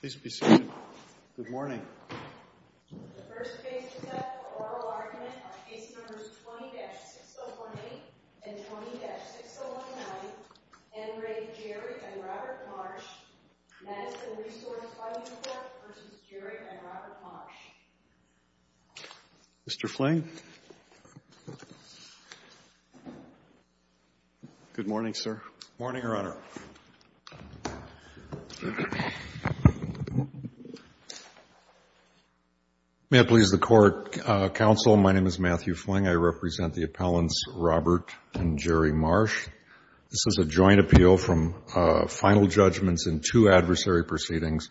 Please be seated. Good morning. The first case is an oral argument on case numbers 20-6018 and 20-6019, Henry, Jerry, and Robert Marsh. Madison Resource Funding Corp. v. Jerry and Robert Marsh. Mr. Fling. Good morning, sir. Good morning, Your Honor. May it please the Court. Counsel, my name is Matthew Fling. I represent the appellants Robert and Jerry Marsh. This is a joint appeal from final judgments in two adversary proceedings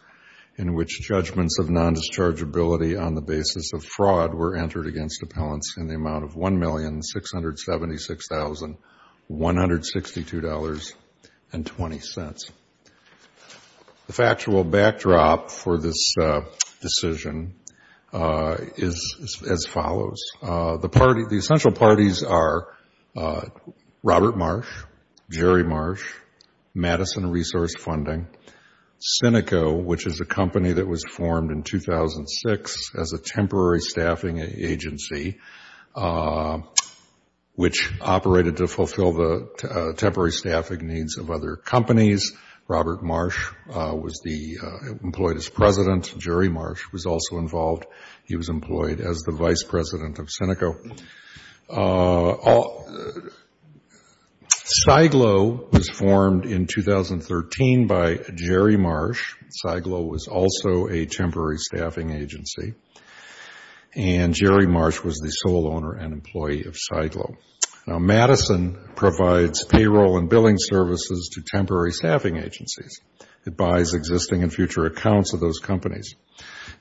in which judgments of nondischargeability on the basis of fraud were entered against appellants in the amount of $1,676,162.20. The factual backdrop for this decision is as follows. The essential parties are Robert Marsh, Jerry Marsh, Madison Resource Funding, Cineco, which is a company that was formed in 2006 as a temporary staffing agency which operated to fulfill the temporary staffing needs of other companies. Robert Marsh was employed as president. Jerry Marsh was also involved. Cyglo was formed in 2013 by Jerry Marsh. Cyglo was also a temporary staffing agency. And Jerry Marsh was the sole owner and employee of Cyglo. Now, Madison provides payroll and billing services to temporary staffing agencies. It buys existing and future accounts of those companies.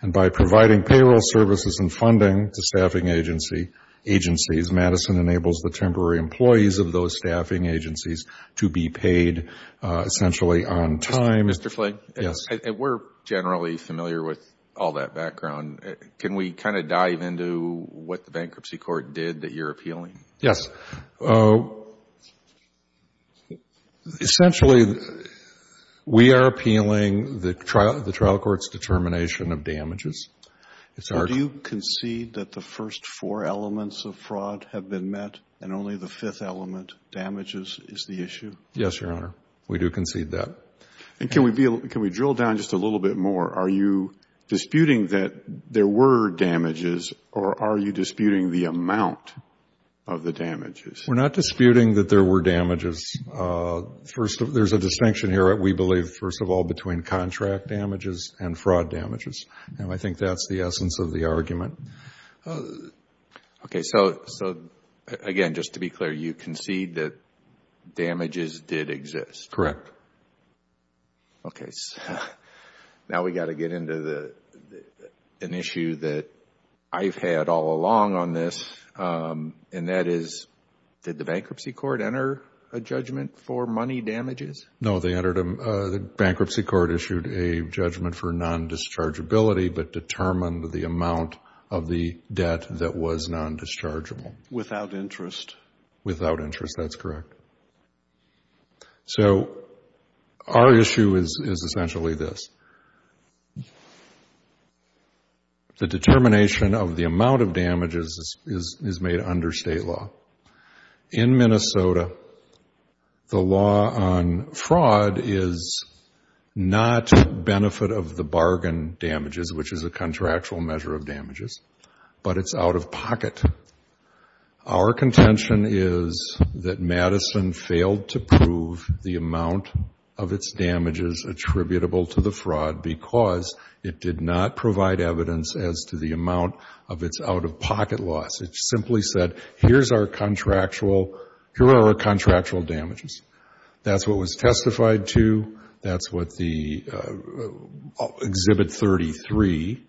And by providing payroll services and funding to staffing agencies, Madison enables the temporary employees of those staffing agencies to be paid essentially on time. Mr. Fling? Yes. We're generally familiar with all that background. Can we kind of dive into what the bankruptcy court did that you're appealing? Yes. Essentially, we are appealing the trial court's determination of damages. Do you concede that the first four elements of fraud have been met and only the fifth element, damages, is the issue? Yes, Your Honor. We do concede that. And can we drill down just a little bit more? Are you disputing that there were damages, or are you disputing the amount of the damages? We're not disputing that there were damages. There's a distinction here, we believe, first of all, between contract damages and fraud damages. And I think that's the essence of the argument. Okay. So, again, just to be clear, you concede that damages did exist? Correct. Okay. Now we've got to get into an issue that I've had all along on this, and that is, did the bankruptcy court enter a judgment for money damages? No. The bankruptcy court issued a judgment for non-dischargeability but determined the amount of the debt that was non-dischargeable. Without interest? Without interest, that's correct. So our issue is essentially this. The determination of the amount of damages is made under state law. In Minnesota, the law on fraud is not benefit of the bargain damages, which is a contractual measure of damages, but it's out of pocket. Our contention is that Madison failed to prove the amount of its damages attributable to the fraud because it did not provide evidence as to the amount of its out-of-pocket loss. It simply said, here are our contractual damages. That's what was testified to. That's what Exhibit 33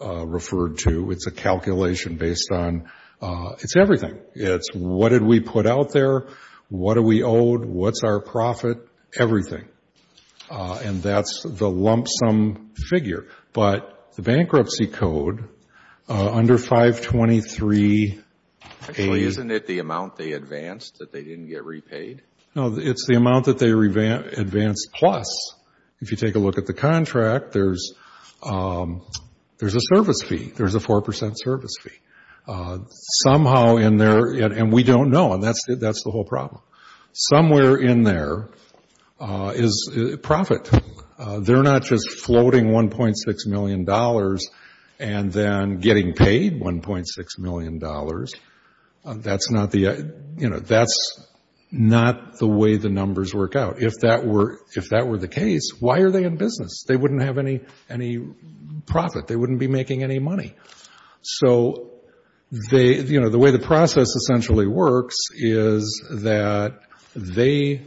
referred to. It's a calculation based on – it's everything. It's what did we put out there, what are we owed, what's our profit, everything. And that's the lump sum figure. But the bankruptcy code, under 523A Actually, isn't it the amount they advanced that they didn't get repaid? No, it's the amount that they advanced plus. If you take a look at the contract, there's a service fee. There's a 4 percent service fee. Somehow in there, and we don't know, and that's the whole problem. Somewhere in there is profit. They're not just floating $1.6 million and then getting paid $1.6 million. That's not the way the numbers work out. If that were the case, why are they in business? They wouldn't have any profit. They wouldn't be making any money. So the way the process essentially works is that they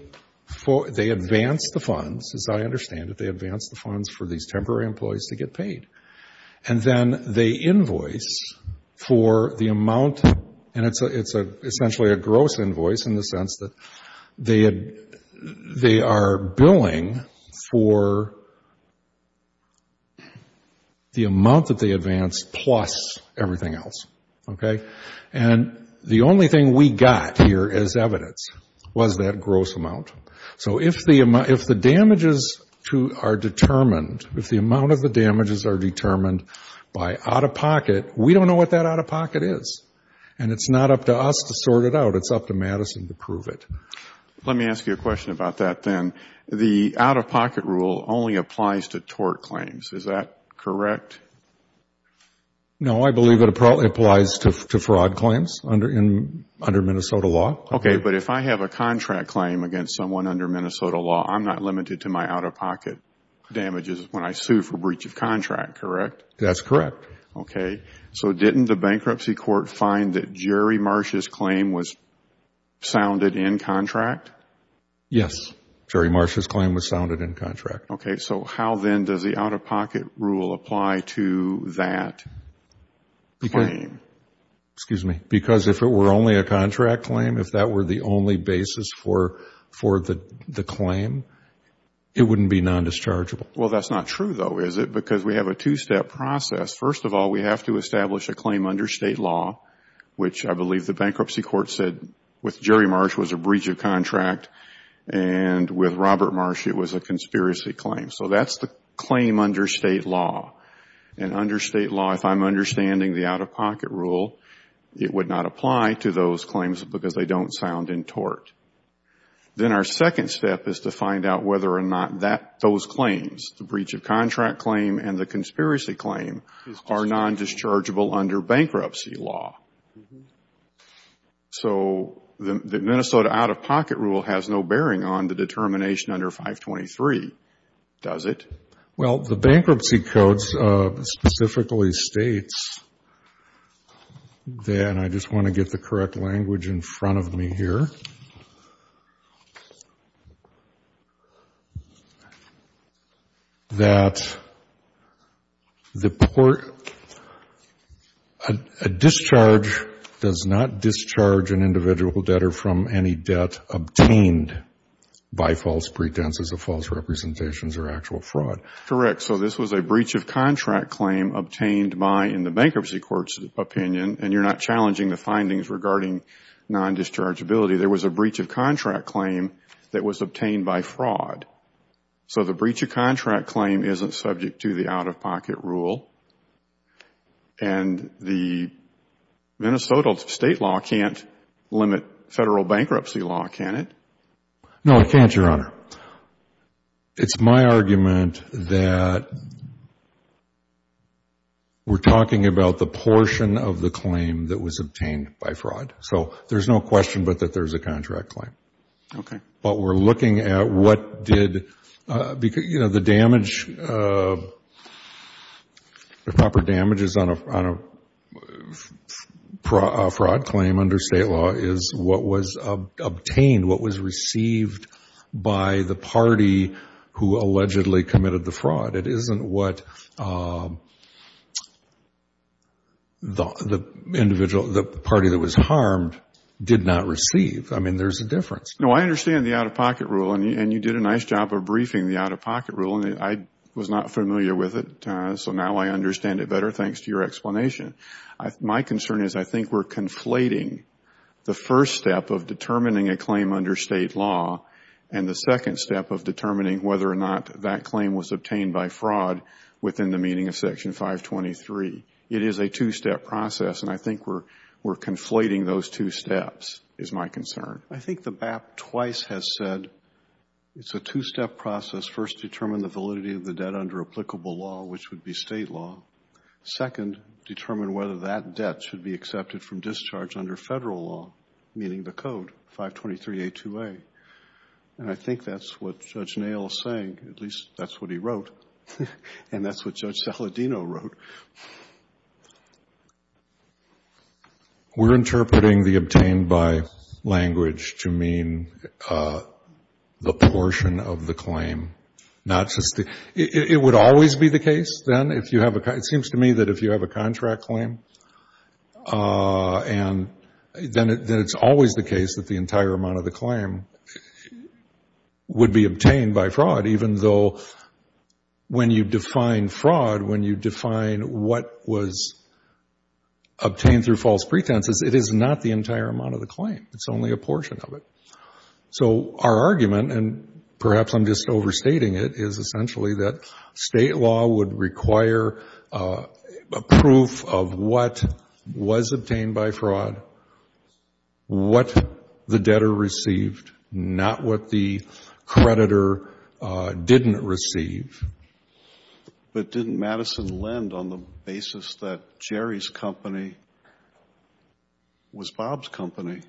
advance the funds, as I understand it, they advance the funds for these temporary employees to get paid. And then they invoice for the amount, and it's essentially a gross invoice in the sense that they are billing for the amount that they advanced plus everything else. And the only thing we got here as evidence was that gross amount. So if the damages are determined, if the amount of the damages are determined by out-of-pocket, we don't know what that out-of-pocket is. And it's not up to us to sort it out. It's up to Madison to prove it. Let me ask you a question about that then. The out-of-pocket rule only applies to tort claims. Is that correct? No, I believe it applies to fraud claims under Minnesota law. Okay, but if I have a contract claim against someone under Minnesota law, I'm not limited to my out-of-pocket damages when I sue for breach of contract, correct? That's correct. Okay, so didn't the bankruptcy court find that Jerry Marsh's claim was sounded in contract? Yes, Jerry Marsh's claim was sounded in contract. Okay, so how then does the out-of-pocket rule apply to that claim? Excuse me, because if it were only a contract claim, if that were the only basis for the claim, it wouldn't be non-dischargeable. Well, that's not true though, is it? Because we have a two-step process. First of all, we have to establish a claim under State law, which I believe the bankruptcy court said with Jerry Marsh was a breach of contract and with Robert Marsh it was a conspiracy claim. So that's the claim under State law. And under State law, if I'm understanding the out-of-pocket rule, it would not apply to those claims because they don't sound in tort. Then our second step is to find out whether or not those claims, the breach of contract claim and the conspiracy claim, are non-dischargeable under bankruptcy law. So the Minnesota out-of-pocket rule has no bearing on the determination under 523, does it? Well, the bankruptcy codes specifically states, and I just want to get the correct language in front of me here, that a discharge does not discharge an individual debtor from any debt obtained by false pretenses of false representations or actual fraud. Correct. So this was a breach of contract claim obtained by, in the bankruptcy court's opinion, and you're not challenging the findings regarding non-dischargeability, there was a breach of contract claim that was obtained by fraud. So the breach of contract claim isn't subject to the out-of-pocket rule. And the Minnesota State law can't limit Federal bankruptcy law, can it? No, it can't, Your Honor. It's my argument that we're talking about the portion of the claim that was obtained by fraud. So there's no question but that there's a contract claim. Okay. But we're looking at what did, you know, the damage, the proper damages on a fraud claim under State law is what was obtained, what was received by the party who allegedly committed the fraud. It isn't what the party that was harmed did not receive. I mean, there's a difference. No, I understand the out-of-pocket rule, and you did a nice job of briefing the out-of-pocket rule, and I was not familiar with it, so now I understand it better thanks to your explanation. My concern is I think we're conflating the first step of determining a claim under State law and the second step of determining whether or not that claim was obtained by fraud within the meaning of Section 523. It is a two-step process, and I think we're conflating those two steps is my concern. I think the BAP twice has said it's a two-step process. First, determine the validity of the debt under applicable law, which would be State law. Second, determine whether that debt should be accepted from discharge under Federal law, meaning the code, 523A2A. And I think that's what Judge Nail is saying. At least that's what he wrote, and that's what Judge Saladino wrote. We're interpreting the obtained by language to mean the portion of the claim, not just the ‑‑ it would always be the case, then, if you have a ‑‑ it seems to me that if you have a contract claim, then it's always the case that the entire amount of the claim would be obtained by fraud, even though when you define fraud, when you define what was obtained through false pretenses, it is not the entire amount of the claim. It's only a portion of it. So our argument, and perhaps I'm just overstating it, is essentially that State law would require a proof of what was obtained by fraud, what the debtor received, not what the creditor didn't receive. But didn't Madison lend on the basis that Jerry's company was Bob's company?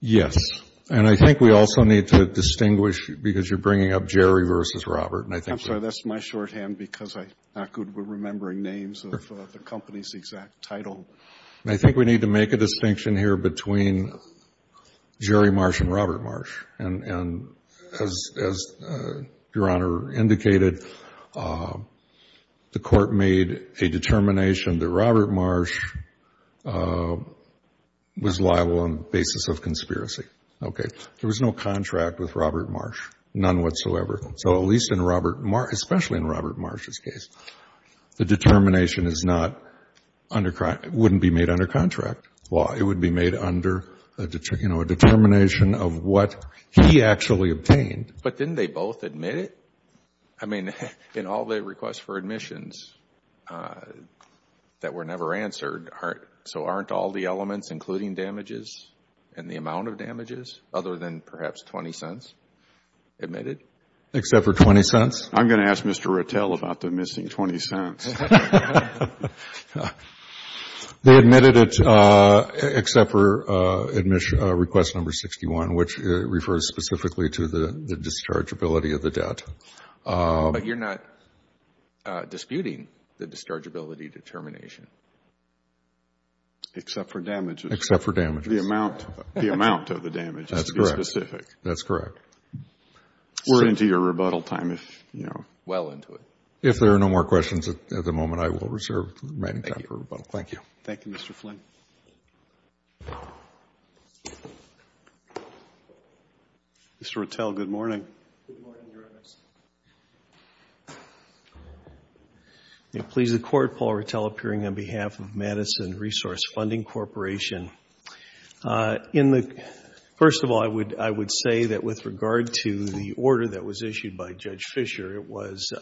Yes. And I think we also need to distinguish, because you're bringing up Jerry versus Robert, and I think ‑‑ I think we need to make a distinction here between Jerry Marsh and Robert Marsh. And as Your Honor indicated, the Court made a determination that Robert Marsh was liable on the basis of conspiracy. Okay. There was no contract with Robert Marsh, none whatsoever. So at least in Robert Marsh, especially in Robert Marsh's case, the determination is not under ‑‑ it wouldn't be made under contract law. It would be made under, you know, a determination of what he actually obtained. But didn't they both admit it? I mean, in all their requests for admissions that were never answered, so aren't all the elements, including damages and the amount of damages, other than perhaps $0.20, admitted? Except for $0.20? I'm going to ask Mr. Rattel about the missing $0.20. They admitted it except for request number 61, which refers specifically to the dischargeability of the debt. But you're not disputing the dischargeability determination? Except for damages. Except for damages. The amount of the damages. That's correct. To be specific. That's correct. We're into your rebuttal time, if you know. Well into it. If there are no more questions at the moment, I will reserve the remaining time for rebuttal. Thank you. Thank you, Mr. Flynn. Mr. Rattel, good morning. Good morning, Your Honors. It pleases the Court, Paul Rattel, appearing on behalf of Madison Resource Funding Corporation. First of all, I would say that with regard to the order that was issued by Judge Fisher, it was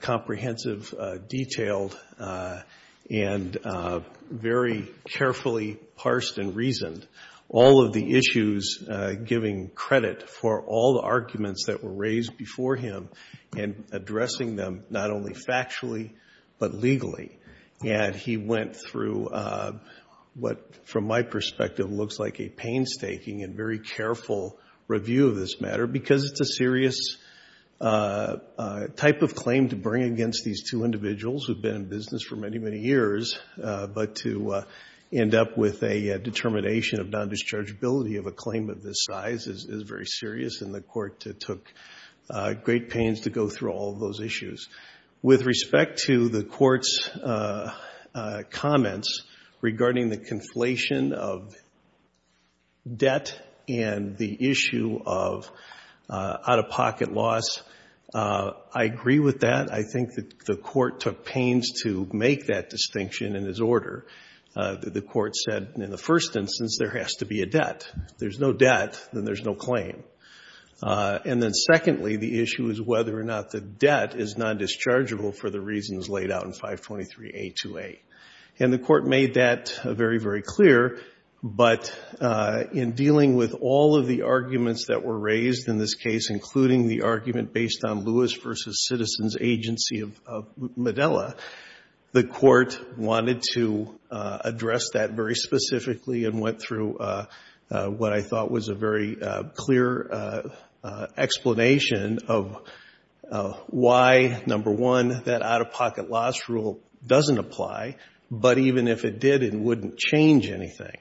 comprehensive, detailed, and very carefully parsed and reasoned. All of the issues giving credit for all the arguments that were raised before him and addressing them not only factually but legally. And he went through what, from my perspective, looks like a painstaking and very careful review of this matter because it's a serious type of claim to bring against these two individuals who have been in business for many, many years, but to end up with a determination of non-dischargeability of a claim of this size is very serious. And the Court took great pains to go through all of those issues. With respect to the Court's comments regarding the conflation of debt and the issue of out-of-pocket loss, I agree with that. I think that the Court took pains to make that distinction in his order. The Court said, in the first instance, there has to be a debt. If there's no debt, then there's no claim. And then secondly, the issue is whether or not the debt is non-dischargeable for the reasons laid out in 523A28. And the Court made that very, very clear. But in dealing with all of the arguments that were raised in this case, including the argument based on Lewis v. Citizens' agency of Medela, the Court wanted to address that very specifically and went through what I thought was a very clear explanation of why, number one, that out-of-pocket loss rule doesn't apply, but even if it did, it wouldn't change anything.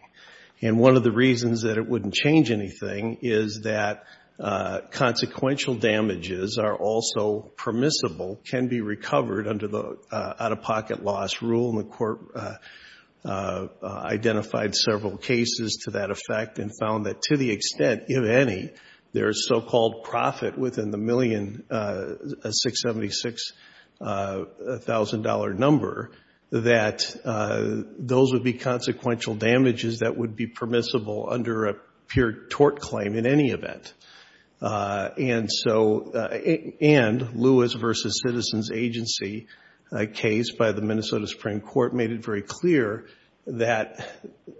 And one of the reasons that it wouldn't change anything is that consequential damages are also permissible, can be recovered under the out-of-pocket loss rule. And the Court identified several cases to that effect and found that to the extent, if any, there is so-called profit within the $1,676,000 number, that those would be consequential damages that would be permissible under a pure tort claim in any event. And so, and Lewis v. Citizens' agency case by the Minnesota Supreme Court made it very clear that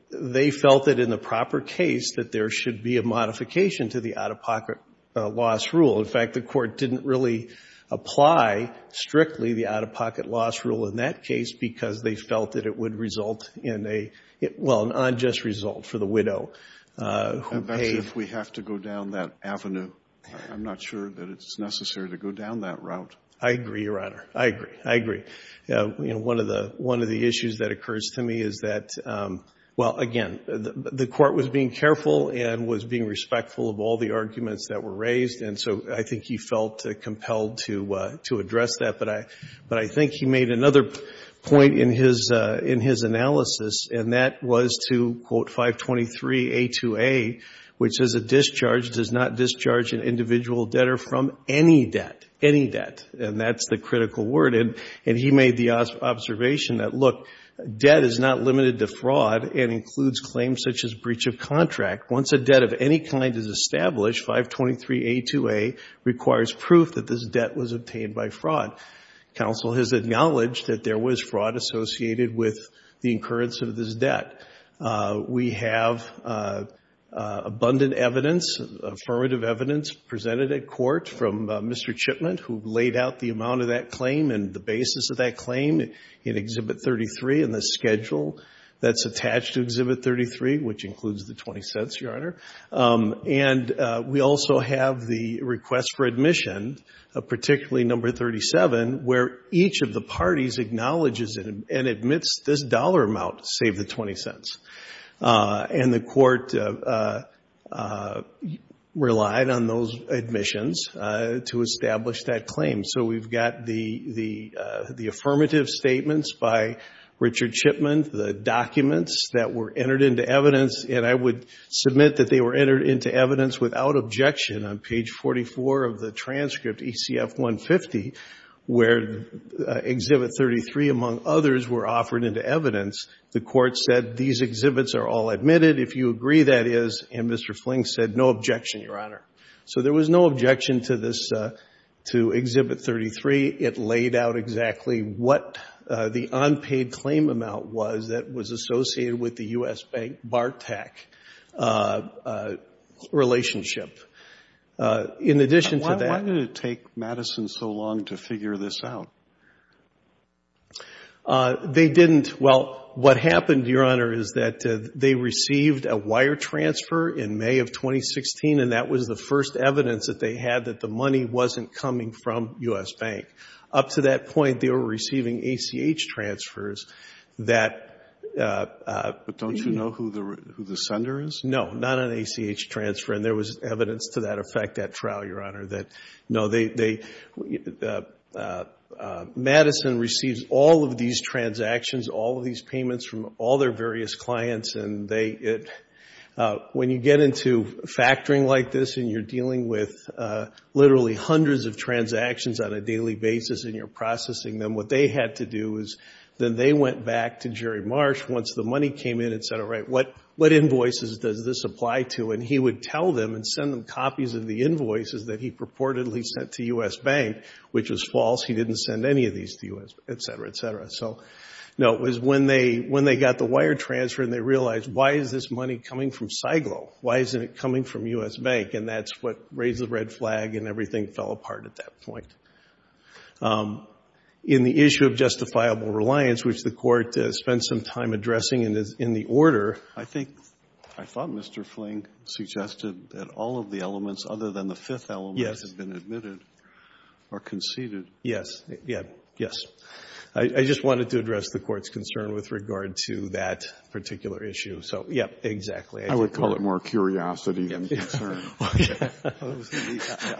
they felt that in the proper case that there should be a modification to the out-of-pocket loss rule. In fact, the Court didn't really apply strictly the out-of-pocket loss rule in that case because they felt that it would result in a, well, an unjust result for the widow who paid. Kennedy, if we have to go down that avenue, I'm not sure that it's necessary to go down that route. I agree, Your Honor. I agree. I agree. You know, one of the issues that occurs to me is that, well, again, the Court was being careful and was being respectful of all the arguments that were raised. And so I think he felt compelled to address that. But I think he made another point in his analysis, and that was to, quote, 523A2A, which says a discharge does not discharge an individual debtor from any debt, any debt. And that's the critical word. And he made the observation that, look, debt is not limited to fraud and includes claims such as breach of contract. Once a debt of any kind is established, 523A2A requires proof that this debt was obtained by fraud. Counsel has acknowledged that there was fraud associated with the incurrence of this debt. We have abundant evidence, affirmative evidence, presented at court from Mr. Chipman, who laid out the amount of that claim and the basis of that claim in Exhibit 33 and the schedule that's attached to Exhibit 33, which includes the $0.20, Your Honor. And we also have the request for admission, particularly number 37, where each of the parties acknowledges and admits this dollar amount, save the $0.20. And the Court relied on those admissions to establish that claim. So we've got the affirmative statements by Richard Chipman, the documents that were entered into evidence. And I would submit that they were entered into evidence without objection on page 44 of the transcript, ECF-150, where Exhibit 33, among others, were offered into evidence. The Court said these exhibits are all admitted if you agree that is. And Mr. Fling said no objection, Your Honor. So there was no objection to this, to Exhibit 33. It laid out exactly what the unpaid claim amount was that was associated with the U.S.-BARTAC relationship. In addition to that — Why did it take Madison so long to figure this out? They didn't. Well, what happened, Your Honor, is that they received a wire transfer in May of 2016, and that was the first evidence that they had that the money wasn't coming from U.S. Bank. Up to that point, they were receiving ACH transfers that — But don't you know who the sender is? No, not an ACH transfer. And there was evidence to that effect at trial, Your Honor, that, no, they — they received all of these transactions, all of these payments from all their various clients, and they — when you get into factoring like this and you're dealing with literally hundreds of transactions on a daily basis and you're processing them, what they had to do is then they went back to Jerry Marsh once the money came in and said, all right, what invoices does this apply to? And he would tell them and send them copies of the invoices that he purportedly sent to U.S. Bank, which was false. He didn't send any of these to U.S. Bank, et cetera, et cetera. So, no, it was when they got the wire transfer and they realized, why is this money coming from Cyglo? Why isn't it coming from U.S. Bank? And that's what raised the red flag and everything fell apart at that point. In the issue of justifiable reliance, which the Court spent some time addressing in the order — I think — I thought Mr. Fling suggested that all of the elements other than the Yes. Yes. I just wanted to address the Court's concern with regard to that particular issue. So, yes, exactly. I would call it more curiosity than concern. I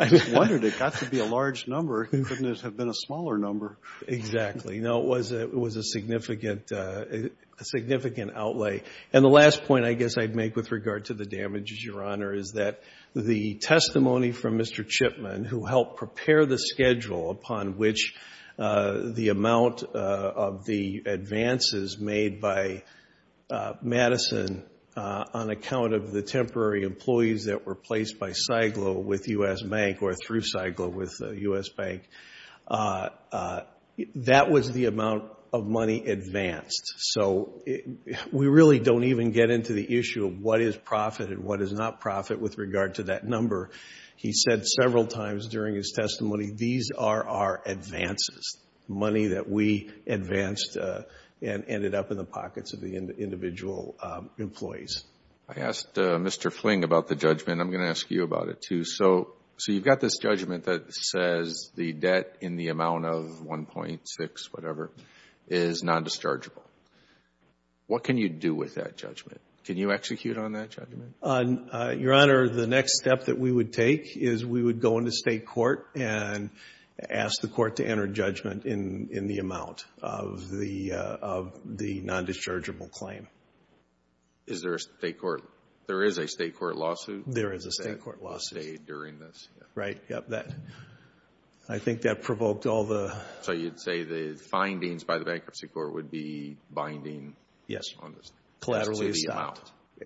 just wondered. It got to be a large number. It couldn't have been a smaller number. Exactly. No, it was a significant outlay. And the last point I guess I'd make with regard to the damages, Your Honor, is that the testimony from Mr. Chipman, who helped prepare the schedule upon which the amount of the advances made by Madison on account of the temporary employees that were placed by Cyglo with U.S. Bank or through Cyglo with U.S. Bank, that was the amount of money advanced. So we really don't even get into the issue of what is profit and what is not profit with regard to that number. He said several times during his testimony, these are our advances, money that we advanced and ended up in the pockets of the individual employees. I asked Mr. Fling about the judgment. I'm going to ask you about it, too. So you've got this judgment that says the debt in the amount of 1.6, whatever, is non-dischargeable. What can you do with that judgment? Can you execute on that judgment? Your Honor, the next step that we would take is we would go into state court and ask the court to enter judgment in the amount of the non-dischargeable claim. Is there a state court? There is a state court lawsuit that was stayed during this. Right. I think that provoked all the...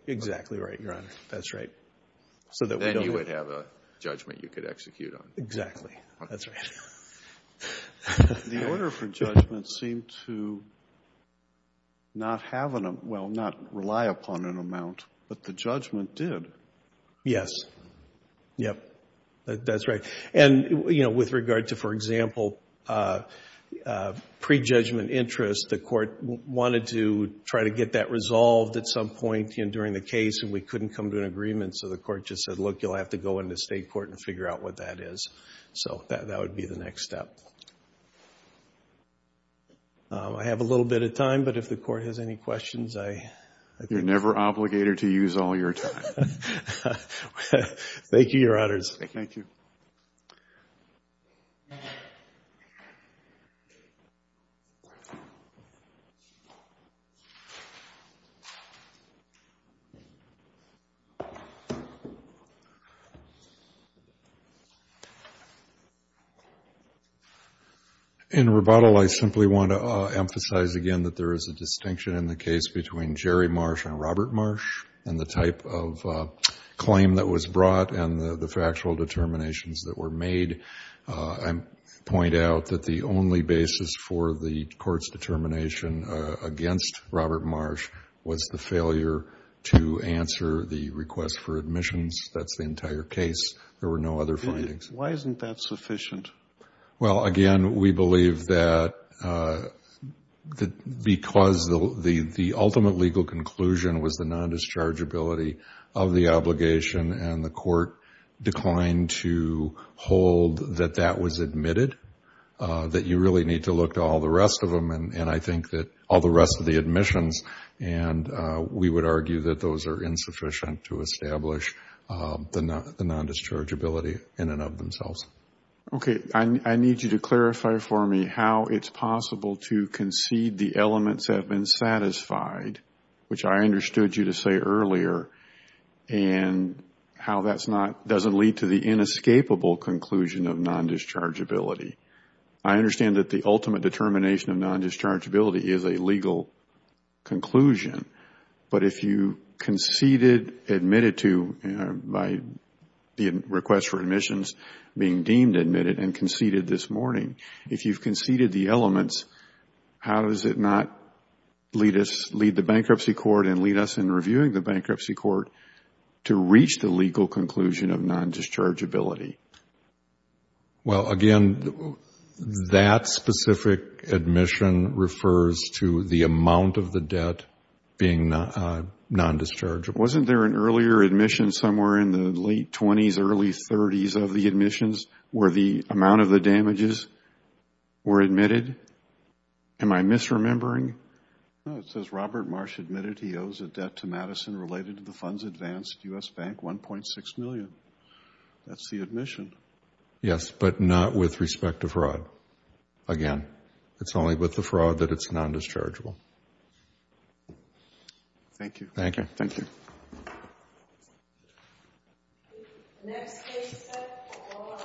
Exactly right, Your Honor. That's right. Then you would have a judgment you could execute on. Exactly. That's right. The order for judgment seemed to not rely upon an amount, but the judgment did. Yes. Yes. That's right. With regard to, for example, prejudgment interest, the court wanted to try to get that resolved at some point during the case, and we couldn't come to an agreement. So the court just said, look, you'll have to go into state court and figure out what that is. So that would be the next step. I have a little bit of time, but if the court has any questions, I think... You're never obligated to use all your time. Thank you, Your Honors. Thank you. Thank you. In rebuttal, I simply want to emphasize again that there is a distinction in the case between Jerry Marsh and Robert Marsh and the type of claim that was brought and the factual determinations that were made. I point out that the only basis for the court's determination against Robert Marsh was the failure to answer the request for admissions. That's the entire case. There were no other findings. Why isn't that sufficient? Well, again, we believe that because the ultimate legal conclusion was the result that that was admitted, that you really need to look to all the rest of them and I think that all the rest of the admissions, and we would argue that those are insufficient to establish the non-dischargeability in and of themselves. Okay. I need you to clarify for me how it's possible to concede the elements have been satisfied, which I understood you to say earlier, and how that doesn't lead to the inescapable conclusion of non-dischargeability. I understand that the ultimate determination of non-dischargeability is a legal conclusion, but if you conceded admitted to by the request for admissions being deemed admitted and conceded this morning, if you've conceded the elements, how does it not lead the bankruptcy court and lead us in reviewing the bankruptcy court to reach the legal conclusion of non-dischargeability? Well, again, that specific admission refers to the amount of the debt being non-dischargeable. Wasn't there an earlier admission somewhere in the late 20s, early 30s of the admissions where the amount of the damages were admitted? Am I misremembering? No. It says Robert Marsh admitted he owes a debt to Madison related to the funds advanced, U.S. Bank, 1.6 million. That's the admission. Yes, but not with respect to fraud. Again, it's only with the fraud that it's non-dischargeable. Thank you. Thank you. Thank you. Next case, please.